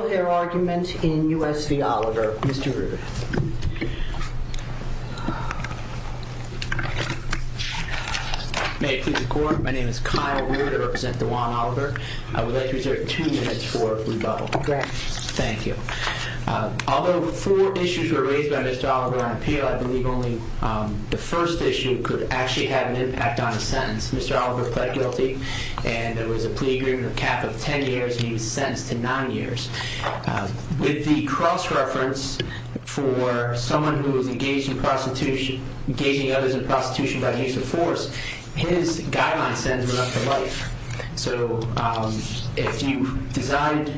May I please record, my name is Kyle Reuter, I represent the Juan Oliver. I would like to reserve two minutes for rebuttal. Thank you. Although four issues were raised by Mr. Oliver on appeal, I believe only the first issue could actually have an impact on a sentence. Mr. Oliver pled guilty and there was a plea agreement of cap of 10 years and he was sentenced to nine years. With the cross-reference for someone who was engaged in prostitution, engaging others in prostitution by use of force, his guideline sentence went up to life. So if you designed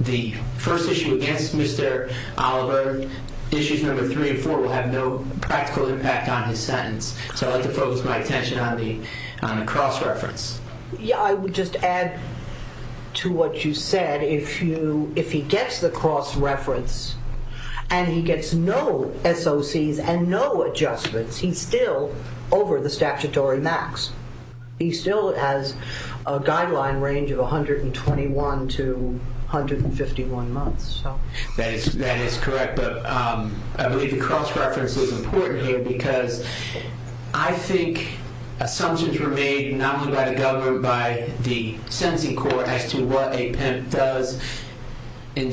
the first issue against Mr. Oliver, issues number three and four will have no practical impact on his sentence. So I'd like to focus my attention on the cross-reference. Yeah, I would just add to what you said. If he gets the cross-reference and he gets no SOCs and no adjustments, he's still over the statutory max. He still has a guideline range of 121 to 151 months. That is correct, but I believe the cross-reference is important here because I think assumptions were made not only by the government, by the sentencing court as to what a pimp does in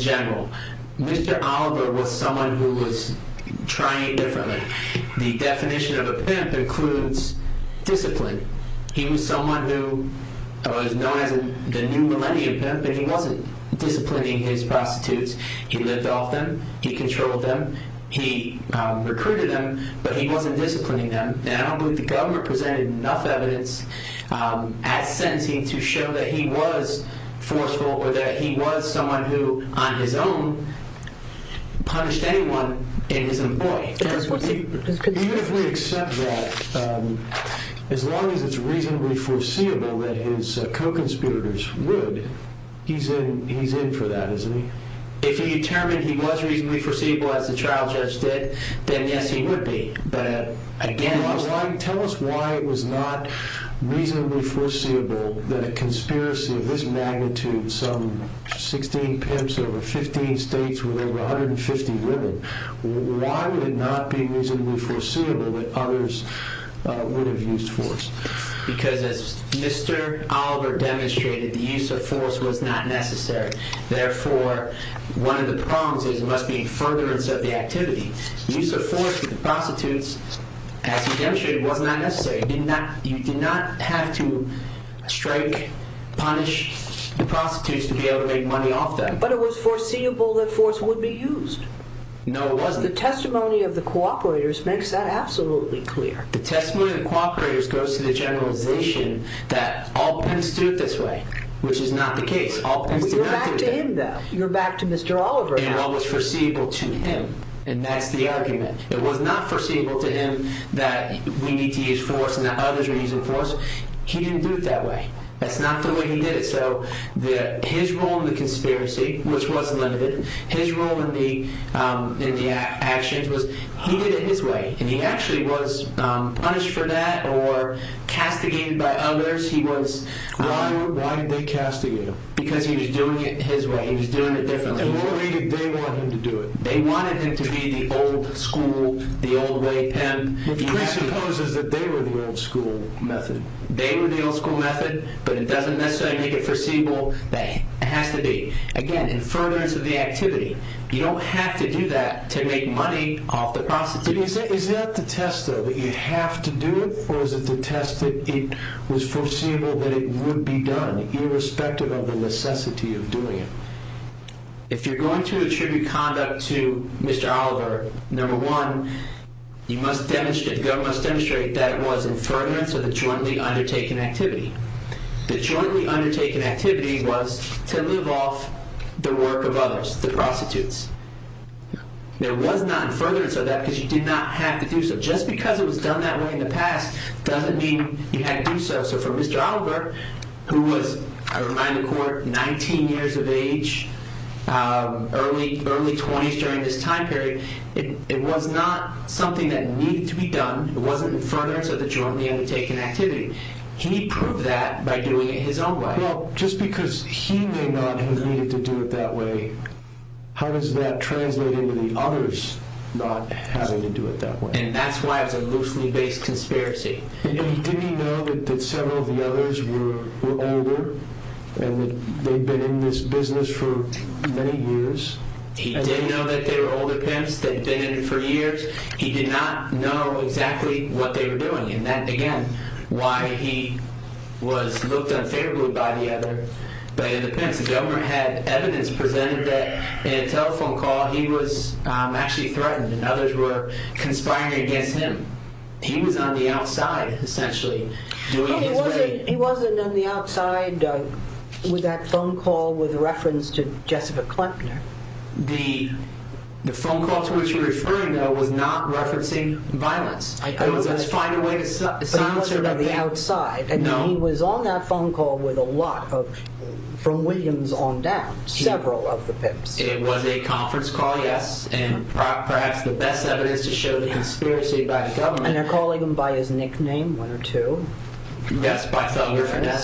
The definition of a pimp includes discipline. He was someone who was known as the new millennium pimp, but he wasn't disciplining his prostitutes. He lived off them. He controlled them. He recruited them, but he wasn't disciplining them. And I don't believe the government presented enough evidence at sentencing to show that he was forceful or that he was someone who on his own punished anyone in his employ. Even if we accept that, as long as it's reasonably foreseeable that his co-conspirators would, he's in for that, isn't he? If he determined he was reasonably foreseeable as the trial judge did, then yes, he would be, but again... Tell us why it was not reasonably foreseeable that a conspiracy of this magnitude, some 16 pimps over 15 states with over 150 women, why would it not be reasonably foreseeable that others would have used force? Because as Mr. Oliver demonstrated, the use of force was not necessary. Therefore, one of the problems is there must be a furtherance of the activity. Use of force with the prostitutes, as he demonstrated, was not necessary. You did not have to strike, punish the prostitutes to be able to make money off them. But it was foreseeable that force would be used. No, it wasn't. The testimony of the co-operators makes that absolutely clear. The testimony of the co-operators goes to the generalization that all pimps do it this way, which is not the case. All pimps do not do that. You're back to him, though. You're back to Mr. Oliver now. It was foreseeable to him, and that's the argument. It was not foreseeable to him that we need to use force and that others are using force. He didn't do it that way. That's not the way he did it. So his role in the conspiracy, which was limited, his role in the actions was he did it his way, and he actually was punished for that or castigated by others. Why did they castigate him? Because he was doing it his way. He was doing it differently. And why did they want him to do it? They wanted him to be the old school, the old way pimp. He presupposes that they were the old school method. They were the old school method, but it doesn't necessarily make it foreseeable. It has to be. Again, in furtherance of the activity, you don't have to do that to make money off the prostitutes. Is that the test, though, that you have to do it, or is it the test that it was foreseeable that it would be done, irrespective of the necessity of doing it? If you're going to attribute conduct to Mr. Oliver, number one, you must demonstrate, demonstrate that it was in furtherance of the jointly undertaken activity. The jointly undertaken activity was to live off the work of others, the prostitutes. There was not in furtherance of that because you did not have to do so. Just because it was done that way in the past doesn't mean you had to do so. So for Mr. Oliver, who was, I remind the court, 19 years of age, early 20s during this time period, it was not something that needed to be done. It wasn't in furtherance of the jointly undertaken activity. He proved that by doing it his own way. Well, just because he may not have needed to do it that way, how does that translate into the others not having to do it that way? And that's why it was a loosely based conspiracy. He didn't know that several of the others were older and that they'd been in this business for many years. He didn't know that there were older pimps that'd been in it for years. He did not know exactly what they were doing. And that, again, why he was looked unfavorably by the other. But the pimps, the government had evidence presented that in a telephone call he was actually threatened and others were conspiring against him. He was on the outside, essentially, doing his way. He wasn't on the outside with that phone call with reference to Jessica Klempner. The phone call to which you're referring, though, was not referencing violence. It was a find a way to silence her. But he wasn't on the outside. No. And he was on that phone call with a lot of, from Williams on down, several of the pimps. It was a conference call, yes, and perhaps the best evidence to show the conspiracy by the government. And they're calling him by his nickname, one or two. Yes.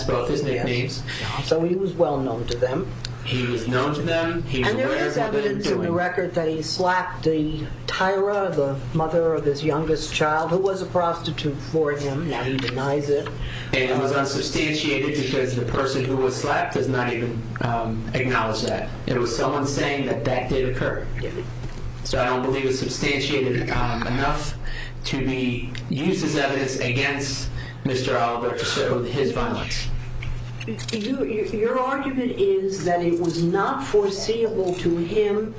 Both his nicknames. So he was well known to them. He was known to them. And there is evidence in the record that he slapped the Tyra, the mother of his youngest child, who was a prostitute for him. Now he denies it. And it was unsubstantiated because the person who was slapped does not even acknowledge that. It was someone saying that that did occur. So I don't believe it's substantiated enough to be used as evidence against Mr. Oliver, so his violence. Your argument is that it was not foreseeable to him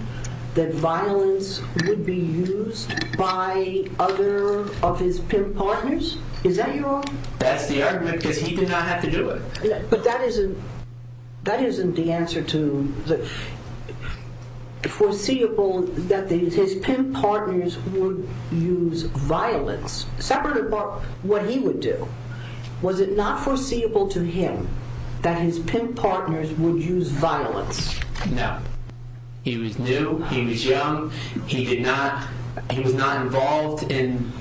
that violence would be used by other of his pimp partners? Is that your argument? That's the argument because he did not have to do it. But that isn't the answer to the foreseeable that his pimp partners would use violence. Separate about what he would do, was it not foreseeable to him that his pimp partners would use violence? No. He was new. He was young. He was not involved in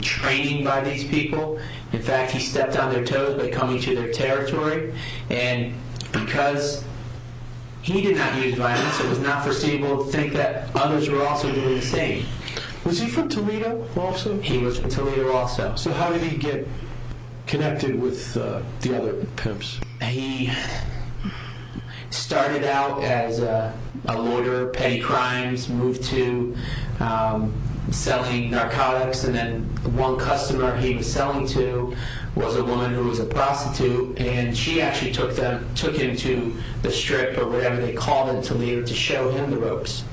training by these people. In fact, he stepped on their toes by coming to their territory. And because he did not use violence, it was not foreseeable to think that others were also doing the same. Was he from Toledo also? He was from Toledo also. So how did he get connected with the other pimps? He started out as a lawyer, petty crimes, moved to selling narcotics. And then one customer he was selling to was a woman who was a prostitute. And she actually took him to the strip or whatever they call it in Toledo to show him the ropes.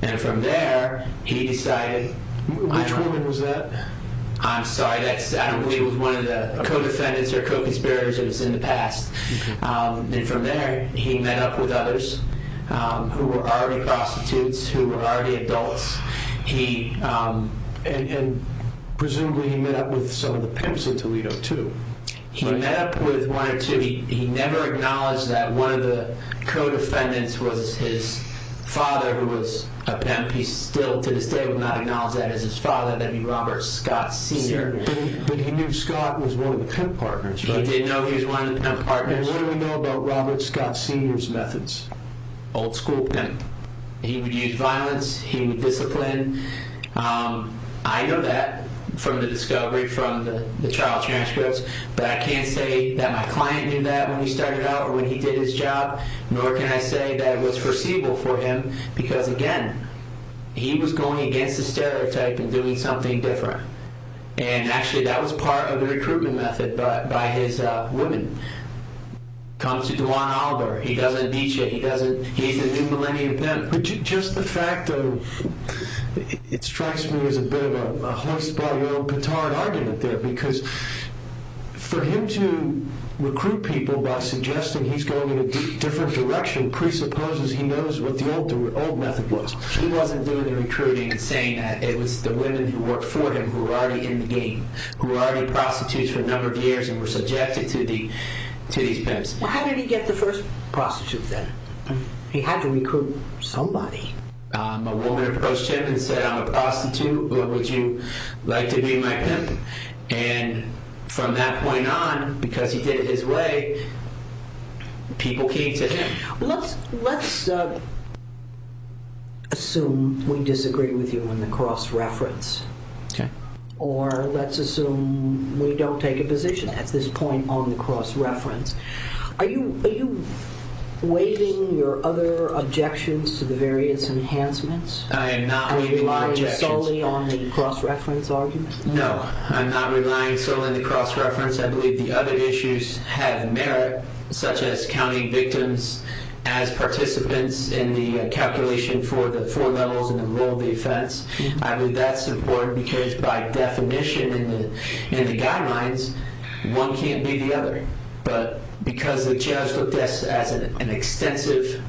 And from there, he decided... Which woman was that? I'm sorry. I don't believe it was one of the co-defendants or co-conspirators. It was in the past. And from there, he met up with others who were already prostitutes, who were already adults. And presumably, he met up with some of the pimps in Toledo too. He met up with one or two. He never acknowledged that one of the co-defendants was his father who was a pimp. He still to this day would not acknowledge that as his father. That would be Robert Scott Sr. But he knew Scott was one of the pimp partners. He did know he was one of the pimp partners. And what do we know about Robert Scott Sr.'s methods? Old school pimp. He would use violence. He would discipline. I know that from the discovery from the trial transcripts. But I can't say that my client knew that when he started out or when he did his job. Nor can I say that it was foreseeable for him. Because, again, he was going against the stereotype and doing something different. And, actually, that was part of the recruitment method by his women. Comes to Duane Albury. He doesn't beat you. He's a new millennium pimp. Just the fact of it strikes me as a bit of a hoax by your own petard argument there. Because for him to recruit people by suggesting he's going in a different direction presupposes he knows what the old method was. He wasn't doing the recruiting and saying that. It was the women who worked for him who were already in the game, who were already prostitutes for a number of years and were subjected to these pimps. How did he get the first prostitute then? He had to recruit somebody. A woman approached him and said, I'm a prostitute. Would you like to be my pimp? And from that point on, because he did it his way, people came to him. Let's assume we disagree with you on the cross-reference. Or let's assume we don't take a position at this point on the cross-reference. Are you waiving your other objections to the various enhancements? I am not waiving my objections. Are you relying solely on the cross-reference argument? No, I'm not relying solely on the cross-reference. I believe the other issues have merit, such as counting victims as participants in the calculation for the four levels in the rule of defense. I believe that's important because by definition in the guidelines, one can't be the other. But because the judge looked at this as an extensive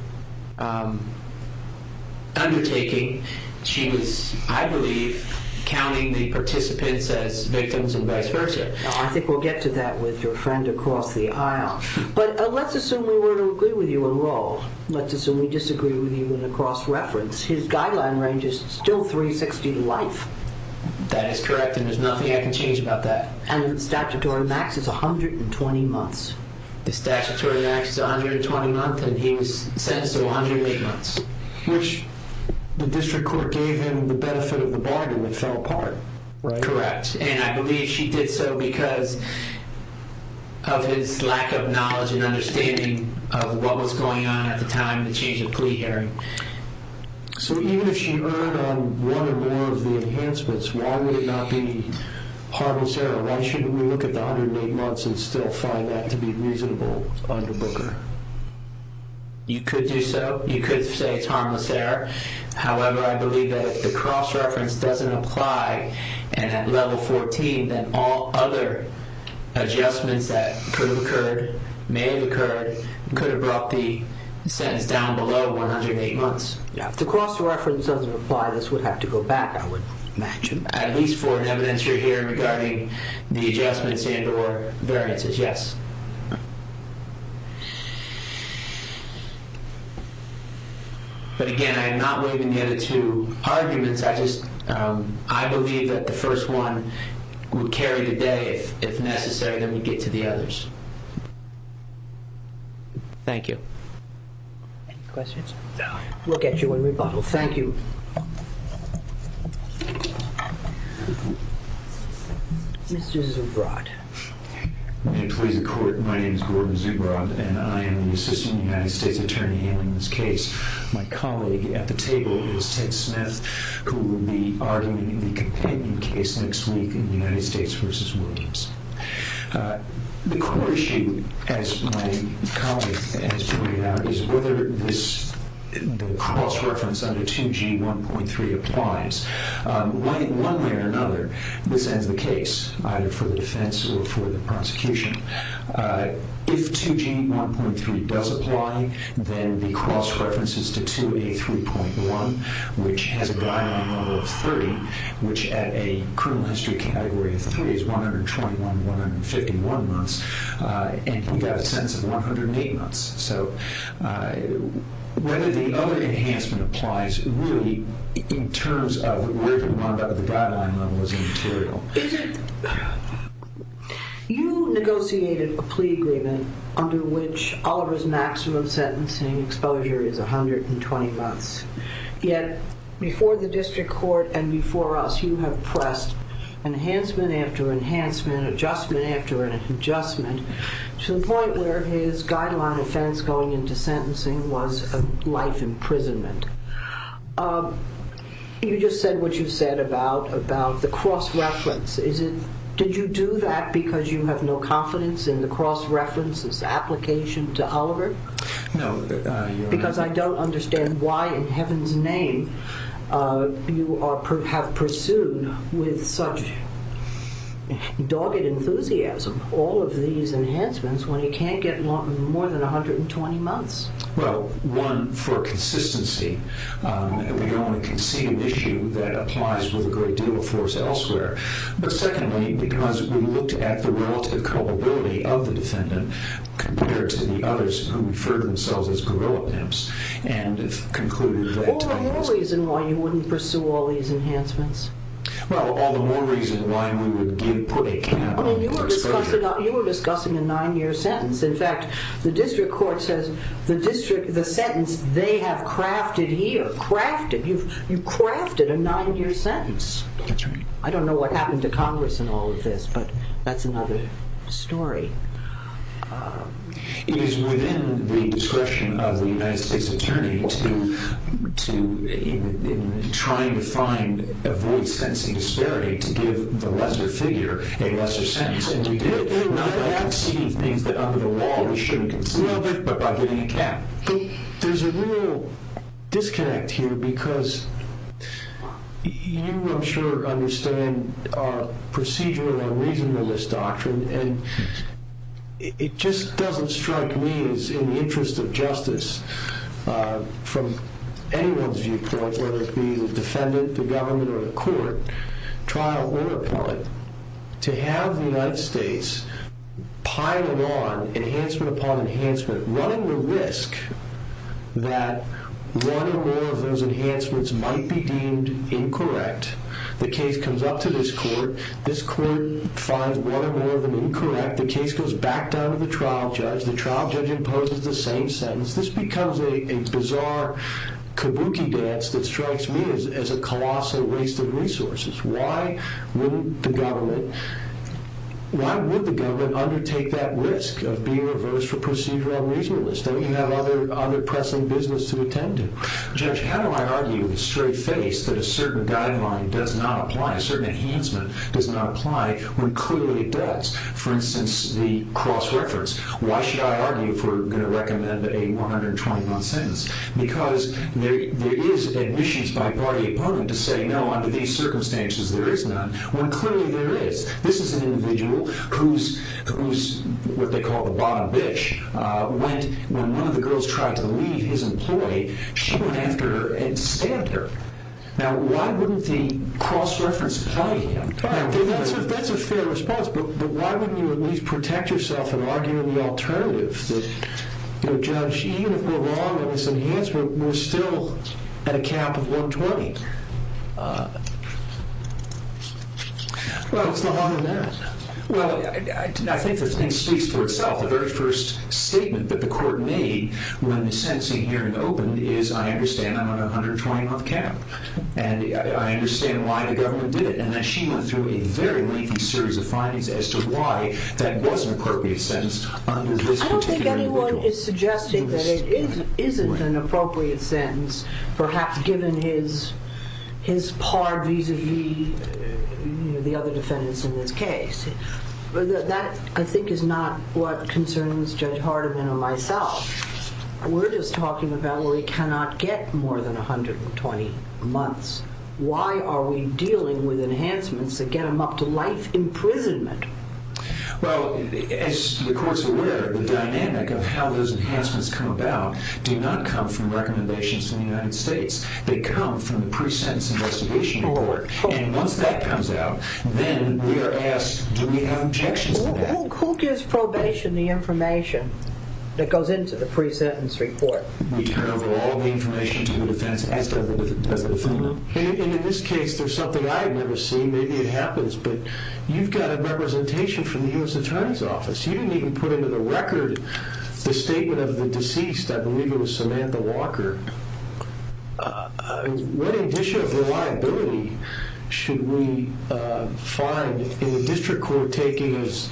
undertaking, she was, I believe, counting the participants as victims and vice versa. I think we'll get to that with your friend across the aisle. But let's assume we were to agree with you in law. Let's assume we disagree with you in the cross-reference. His guideline range is still 360 to life. That is correct, and there's nothing I can change about that. And the statutory max is 120 months. The statutory max is 120 months, and he was sentenced to 108 months. Which the district court gave him the benefit of the bargain. It fell apart. Correct. And I believe she did so because of his lack of knowledge and understanding of what was going on at the time of the change of plea hearing. So even if she earned on one or more of the enhancements, why would it not be harmless error? Why shouldn't we look at the 108 months and still find that to be reasonable under Booker? You could do so. You could say it's harmless error. However, I believe that if the cross-reference doesn't apply and at level 14, then all other adjustments that could have occurred, may have occurred, could have brought the sentence down below 108 months. If the cross-reference doesn't apply, this would have to go back, I would imagine. At least for an evidence you're hearing regarding the adjustments and or variances, yes. But again, I'm not waving the other two arguments. I believe that the first one would carry the day if necessary, then we get to the others. Thank you. Any questions? We'll get you a rebuttal. Thank you. Mr. Zubrod. May I please have a question? My name is Gordon Zubrod, and I am the Assistant United States Attorney handling this case. My colleague at the table is Ted Smith, who will be arguing the companion case next week in United States v. Williams. The core issue, as my colleague has pointed out, is whether this cross-reference under 2G 1.3 applies. One way or another, this ends the case, either for the defense or for the prosecution. If 2G 1.3 does apply, then the cross-reference is to 2A 3.1, which has a guideline level of 30, which at a criminal history category of 3 is 121, 151 months, and you've got a sentence of 108 months. Whether the other enhancement applies, really, in terms of where the guideline level is material. You negotiated a plea agreement under which Oliver's maximum sentencing exposure is 120 months. Yet, before the district court and before us, you have pressed enhancement after enhancement, adjustment after adjustment, to the point where his guideline offense going into sentencing was a life imprisonment. You just said what you said about the cross-reference. Did you do that because you have no confidence in the cross-reference's application to Oliver? No. Because I don't understand why in heaven's name you have pursued with such dogged enthusiasm all of these enhancements when he can't get more than 120 months. Well, one, for consistency. We don't want to concede an issue that applies with a great deal of force elsewhere. But secondly, because we looked at the relative culpability of the defendant compared to the others who referred themselves as guerrilla pimps and concluded that All the more reason why you wouldn't pursue all these enhancements. Well, all the more reason why we would put a cap on exposure. You were discussing a nine-year sentence. In fact, the district court says the sentence they have crafted here, you've crafted a nine-year sentence. I don't know what happened to Congress in all of this, but that's another story. It is within the discretion of the United States Attorney to, in trying to find, avoid sentencing disparity, to give the lesser figure a lesser sentence. And we did it, not by conceding things that under the law we shouldn't concede, but by getting a cap. There's a real disconnect here because you, I'm sure, understand our procedure and our reasonableness doctrine and it just doesn't strike me as in the interest of justice from anyone's viewpoint, whether it be the defendant, the government, or the court, trial or appellate, to have the United States piling on enhancement upon enhancement, running the risk that one or more of those enhancements might be deemed incorrect. The case comes up to this court. This court finds one or more of them incorrect. The case goes back down to the trial judge. The trial judge imposes the same sentence. This becomes a bizarre kabuki dance that strikes me as a colossal waste of resources. Why would the government undertake that risk of being reversed for procedure and reasonableness? Don't you have other pressing business to attend to? Judge, how do I argue with a straight face that a certain guideline does not apply, a certain enhancement does not apply, when clearly it does? For instance, the cross-reference. Why should I argue if we're going to recommend a 120-month sentence? Because there is admissions by party opponent to say, no, under these circumstances there is none, when clearly there is. This is an individual who's what they call the bottom bitch. When one of the girls tried to leave his employee, she went after her and stabbed her. Now, why wouldn't the cross-reference apply? That's a fair response, but why wouldn't you at least protect yourself in arguing the alternative? Judge, even if we're wrong on this enhancement, we're still at a cap of 120. What's the harm in that? Well, I think the thing speaks for itself. The very first statement that the court made when the sentencing hearing opened is, I understand I'm on a 120-month cap, and I understand why the government did it. And then she went through a very lengthy series of findings as to why that was an appropriate sentence under this particular individual. I don't think anyone is suggesting that it isn't an appropriate sentence, perhaps given his par vis-a-vis the other defendants in this case. That, I think, is not what concerns Judge Hardiman or myself. We're just talking about where he cannot get more than 120 months. Why are we dealing with enhancements that get him up to life imprisonment? Well, as the court's aware, the dynamic of how those enhancements come about do not come from recommendations from the United States. They come from the pre-sentence investigation report. Once that comes out, then we are asked, do we have objections to that? Who gives probation the information that goes into the pre-sentence report? We turn over all the information to the defense, as does the defendant. In this case, there's something I've never seen. Maybe it happens, but you've got a representation from the U.S. Attorney's Office. You didn't even put into the record the statement of the deceased. I believe it was Samantha Walker. What addition of reliability should we find in a district court taking as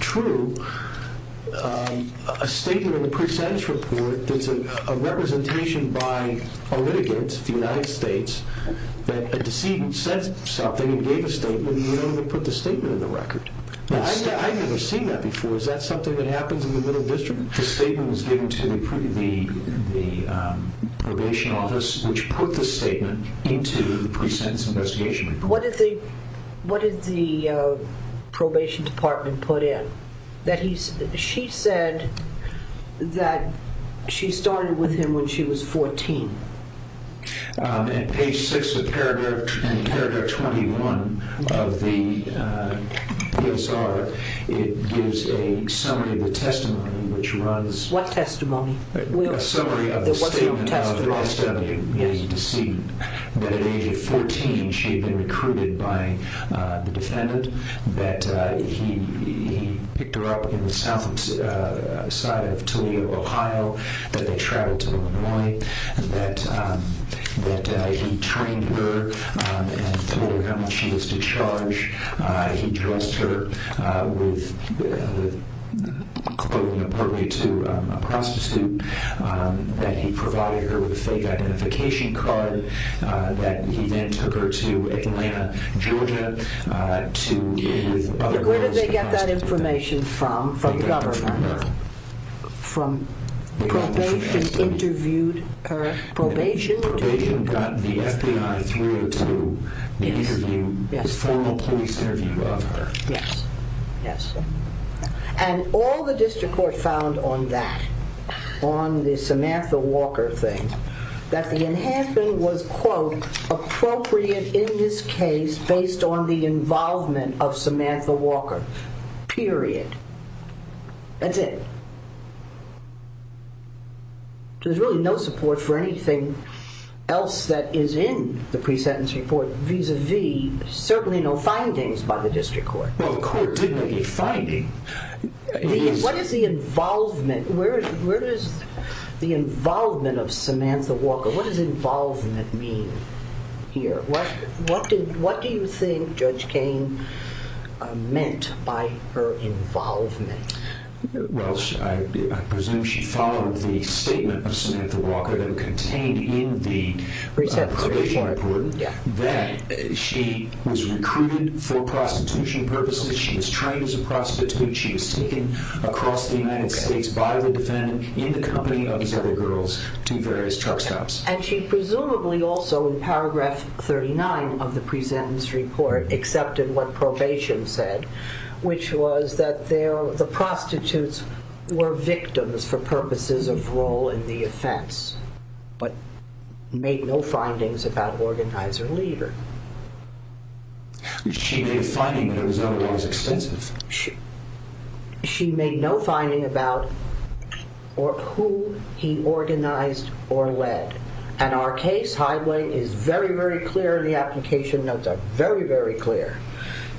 true a statement in the pre-sentence report that's a representation by a litigant, the United States, that a decedent said something and gave a statement, I've never seen that before. Is that something that happens in the middle district? The statement was given to the probation office, which put the statement into the pre-sentence investigation report. What did the probation department put in? She said that she started with him when she was 14. At page 6 of paragraph 21 of the DSR, it gives a summary of the testimony, which runs... What testimony? A summary of the statement of the deceased, that at age of 14, she had been recruited by the defendant, that he picked her up in the south side of Toledo, Ohio, that they traveled to Illinois, that he trained her and told her how much she was to charge. He dressed her with clothing appropriate to a prostitute, that he provided her with a fake identification card, that he then took her to Atlanta, Georgia, to... Where did they get that information from, from government? From probation interviewed her. Probation got the FBI through to the formal police interview of her. Yes. And all the district court found on that, on the Samantha Walker thing, that the enhancement was, quote, appropriate in this case based on the involvement of Samantha Walker. Period. That's it. There's really no support for anything else that is in the pre-sentence report vis-à-vis. There's certainly no findings by the district court. Well, the court did make a finding. What is the involvement? Where is the involvement of Samantha Walker? What does involvement mean here? What do you think Judge Kane meant by her involvement? Well, I presume she followed the statement of Samantha Walker that contained in the pre-sentence report that she was recruited for prostitution purposes, she was trained as a prostitute, she was taken across the United States by the defendant in the company of these other girls to various truck stops. And she presumably also in paragraph 39 of the pre-sentence report accepted what probation said, which was that the prostitutes were victims for purposes of role in the offense but made no findings about organize or leader. She made a finding that was otherwise extensive. She made no finding about who he organized or led. And our case highway is very, very clear. The application notes are very, very clear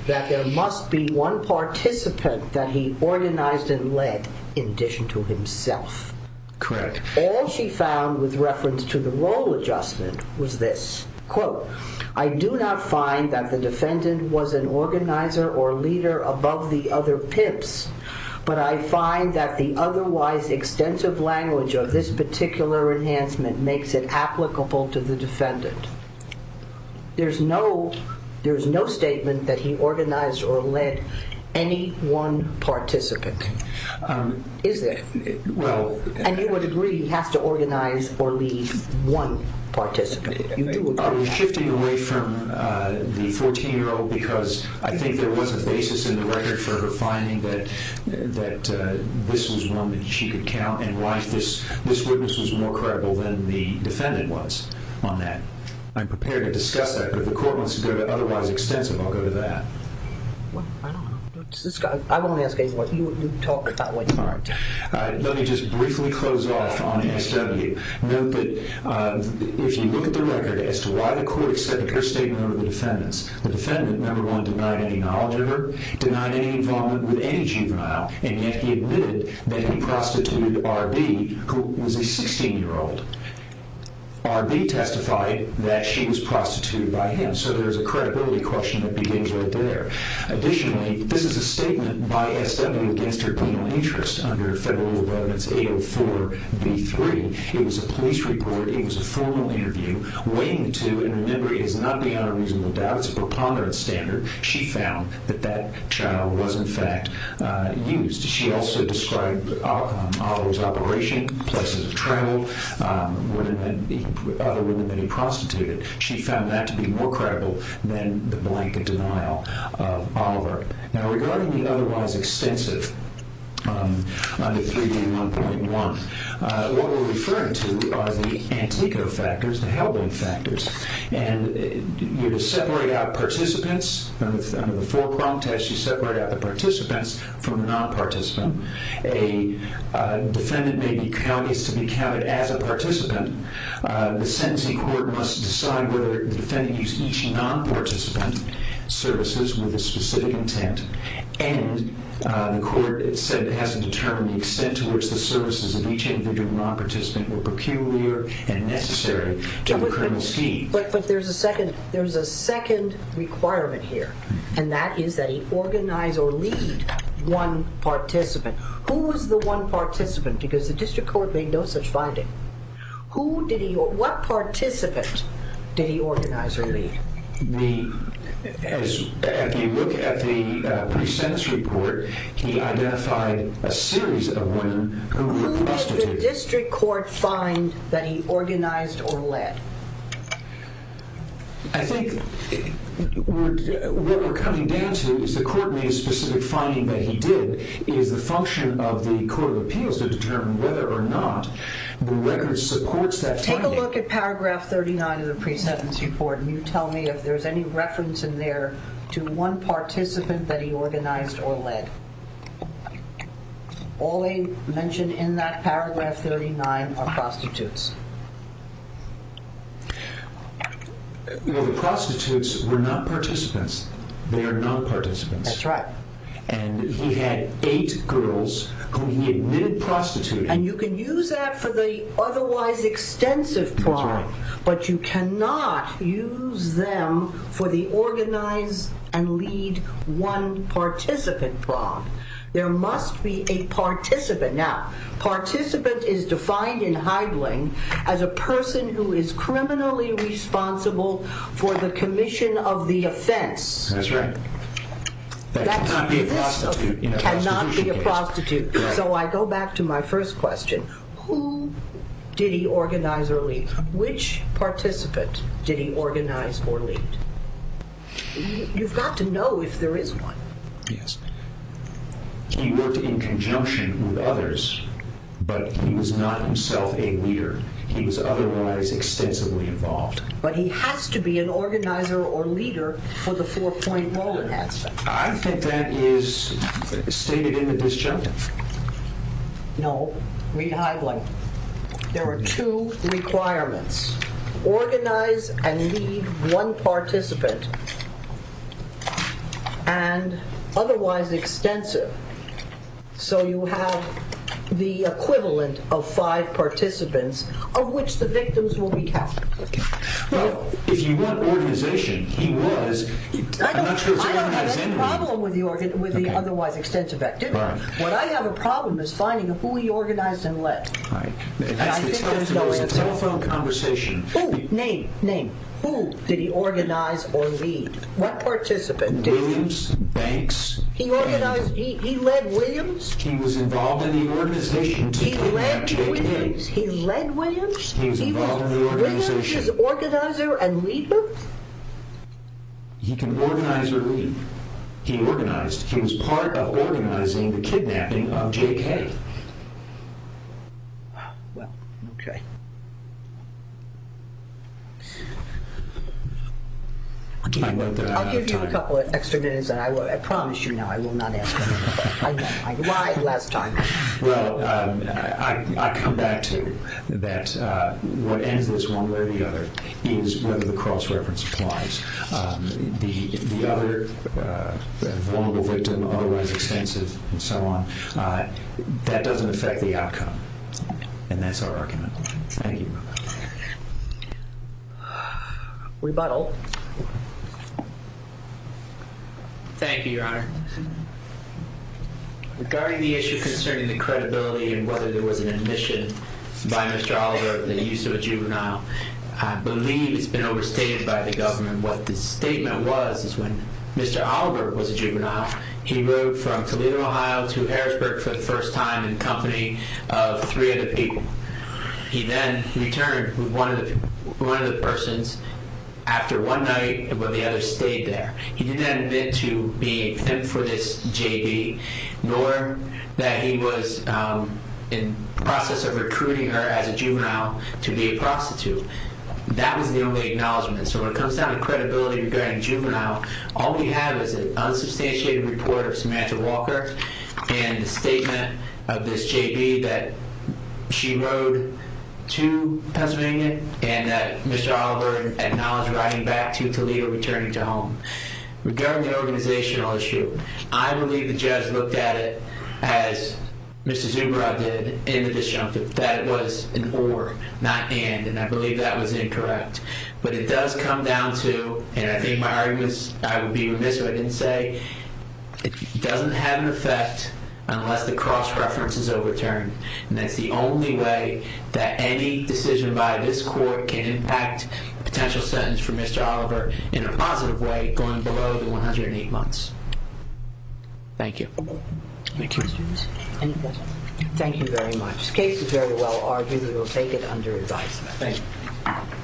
that there must be one participant that he organized and led in addition to himself. Correct. All she found with reference to the role adjustment was this, quote, I do not find that the defendant was an organizer or leader above the other pips, but I find that the otherwise extensive language of this particular enhancement makes it applicable to the defendant. There's no statement that he organized or led any one participant. Is there? And you would agree he has to organize or lead one participant. Are we shifting away from the 14-year-old because I think there was a basis in the record for her finding that this was one that she could count and why this witness was more credible than the defendant was on that. I'm prepared to discuss that, but if the court wants to go to otherwise extensive, I'll go to that. I don't know. I won't ask any more. You talk that way. All right. Let me just briefly close off on ASW. Note that if you look at the record as to why the court accepted her statement over the defendant's, the defendant, number one, denied any knowledge of her, denied any involvement with any juvenile, and yet he admitted that he prostituted R.B., who was a 16-year-old. R.B. testified that she was prostituted by him, so there's a credibility question that begins right there. Additionally, this is a statement by ASW against her penal interest under Federal Rule of Evidence 804B3. It was a police report. It was a formal interview. Weighing the two, and remember, it is not beyond a reasonable doubt. It's a preponderance standard. She found that that child was, in fact, used. She also described Oliver's operation, places of travel, other women that he prostituted. She found that to be more credible than the blank denial of Oliver. Now, regarding the otherwise extensive under 3D1.1, what we're referring to are the antico factors, the helbling factors. And you separate out participants. Under the four-prong test, you separate out the participants from the non-participant. A defendant may be counted as a participant. The sentencing court must decide whether the defendant used each non-participant services with a specific intent, and the court said it hasn't determined the extent to which the services of each individual non-participant were peculiar and necessary to the criminal scheme. But there's a second requirement here, and that is that he organize or lead one participant. Who was the one participant? Because the district court made no such finding. What participant did he organize or lead? As you look at the pre-sentence report, he identified a series of women who were prostitutes. Who did the district court find that he organized or led? I think what we're coming down to is the court made a specific finding that he did. It is the function of the court of appeals to determine whether or not the record supports that finding. Take a look at paragraph 39 of the pre-sentence report, and you tell me if there's any reference in there to one participant that he organized or led. All they mention in that paragraph 39 are prostitutes. The prostitutes were not participants. They are non-participants. That's right. And he had eight girls who he admitted prostituted. And you can use that for the otherwise extensive prong, but you cannot use them for the organize and lead one participant prong. There must be a participant. Now, participant is defined in Heidling as a person who is criminally responsible for the commission of the offense. That's right. That cannot be a prostitute. It cannot be a prostitute. So I go back to my first question. Who did he organize or lead? Which participant did he organize or lead? You've got to know if there is one. Yes. He worked in conjunction with others, but he was not himself a leader. He was otherwise extensively involved. But he has to be an organizer or leader for the four-point law enhancement. I think that is stated in the disjunct. No. Read Heidling. There are two requirements. Organize and lead one participant and otherwise extensive, so you have the equivalent of five participants of which the victims will be counted. If you want organization, he was. I don't have any problem with the otherwise extensive. What I have a problem is finding who he organized and led. That's the telephone conversation. Name. Name. Who did he organize or lead? What participant? Williams, Banks. He led Williams? He was involved in the organization. He led Williams? He was involved in the organization. He was with his organizer and leader? He can organize or lead. He organized. He was part of organizing the kidnapping of J.K. Well, okay. I'll give you a couple of extra minutes. I promise you now I will not ask another question. I lied last time. Well, I come back to that what ends this one way or the other is whether the cross-reference applies. The other vulnerable victim, otherwise extensive, and so on, that doesn't affect the outcome, and that's our argument. Thank you. Rebuttal. Thank you, Your Honor. Regarding the issue concerning the credibility and whether there was an admission by Mr. Oliver of the use of a juvenile, I believe it's been overstated by the government. What the statement was is when Mr. Oliver was a juvenile, he rode from Toledo, Ohio, to Harrisburg for the first time in the company of three other people. He then returned with one of the persons after one night where the other stayed there. He didn't admit to being a victim for this JV, nor that he was in the process of recruiting her as a juvenile to be a prostitute. That was the only acknowledgment. So when it comes down to credibility regarding juvenile, all we have is an unsubstantiated report of Samantha Walker and the statement of this JV that she rode to Pennsylvania and that Mr. Oliver acknowledged riding back to Toledo, returning to home. Regarding the organizational issue, I believe the judge looked at it as Mr. Zubrow did in the disjunctive, that it was an or, not an. And I believe that was incorrect. But it does come down to, and I think my arguments, I would be remiss if I didn't say, it doesn't have an effect unless the cross-reference is overturned. And that's the only way that any decision by this court can impact a potential sentence for Mr. Oliver in a positive way going below the 108 months. Thank you. Thank you. Any questions? Any questions? Thank you very much. The case is very well argued. We will take it under advisement. Thank you.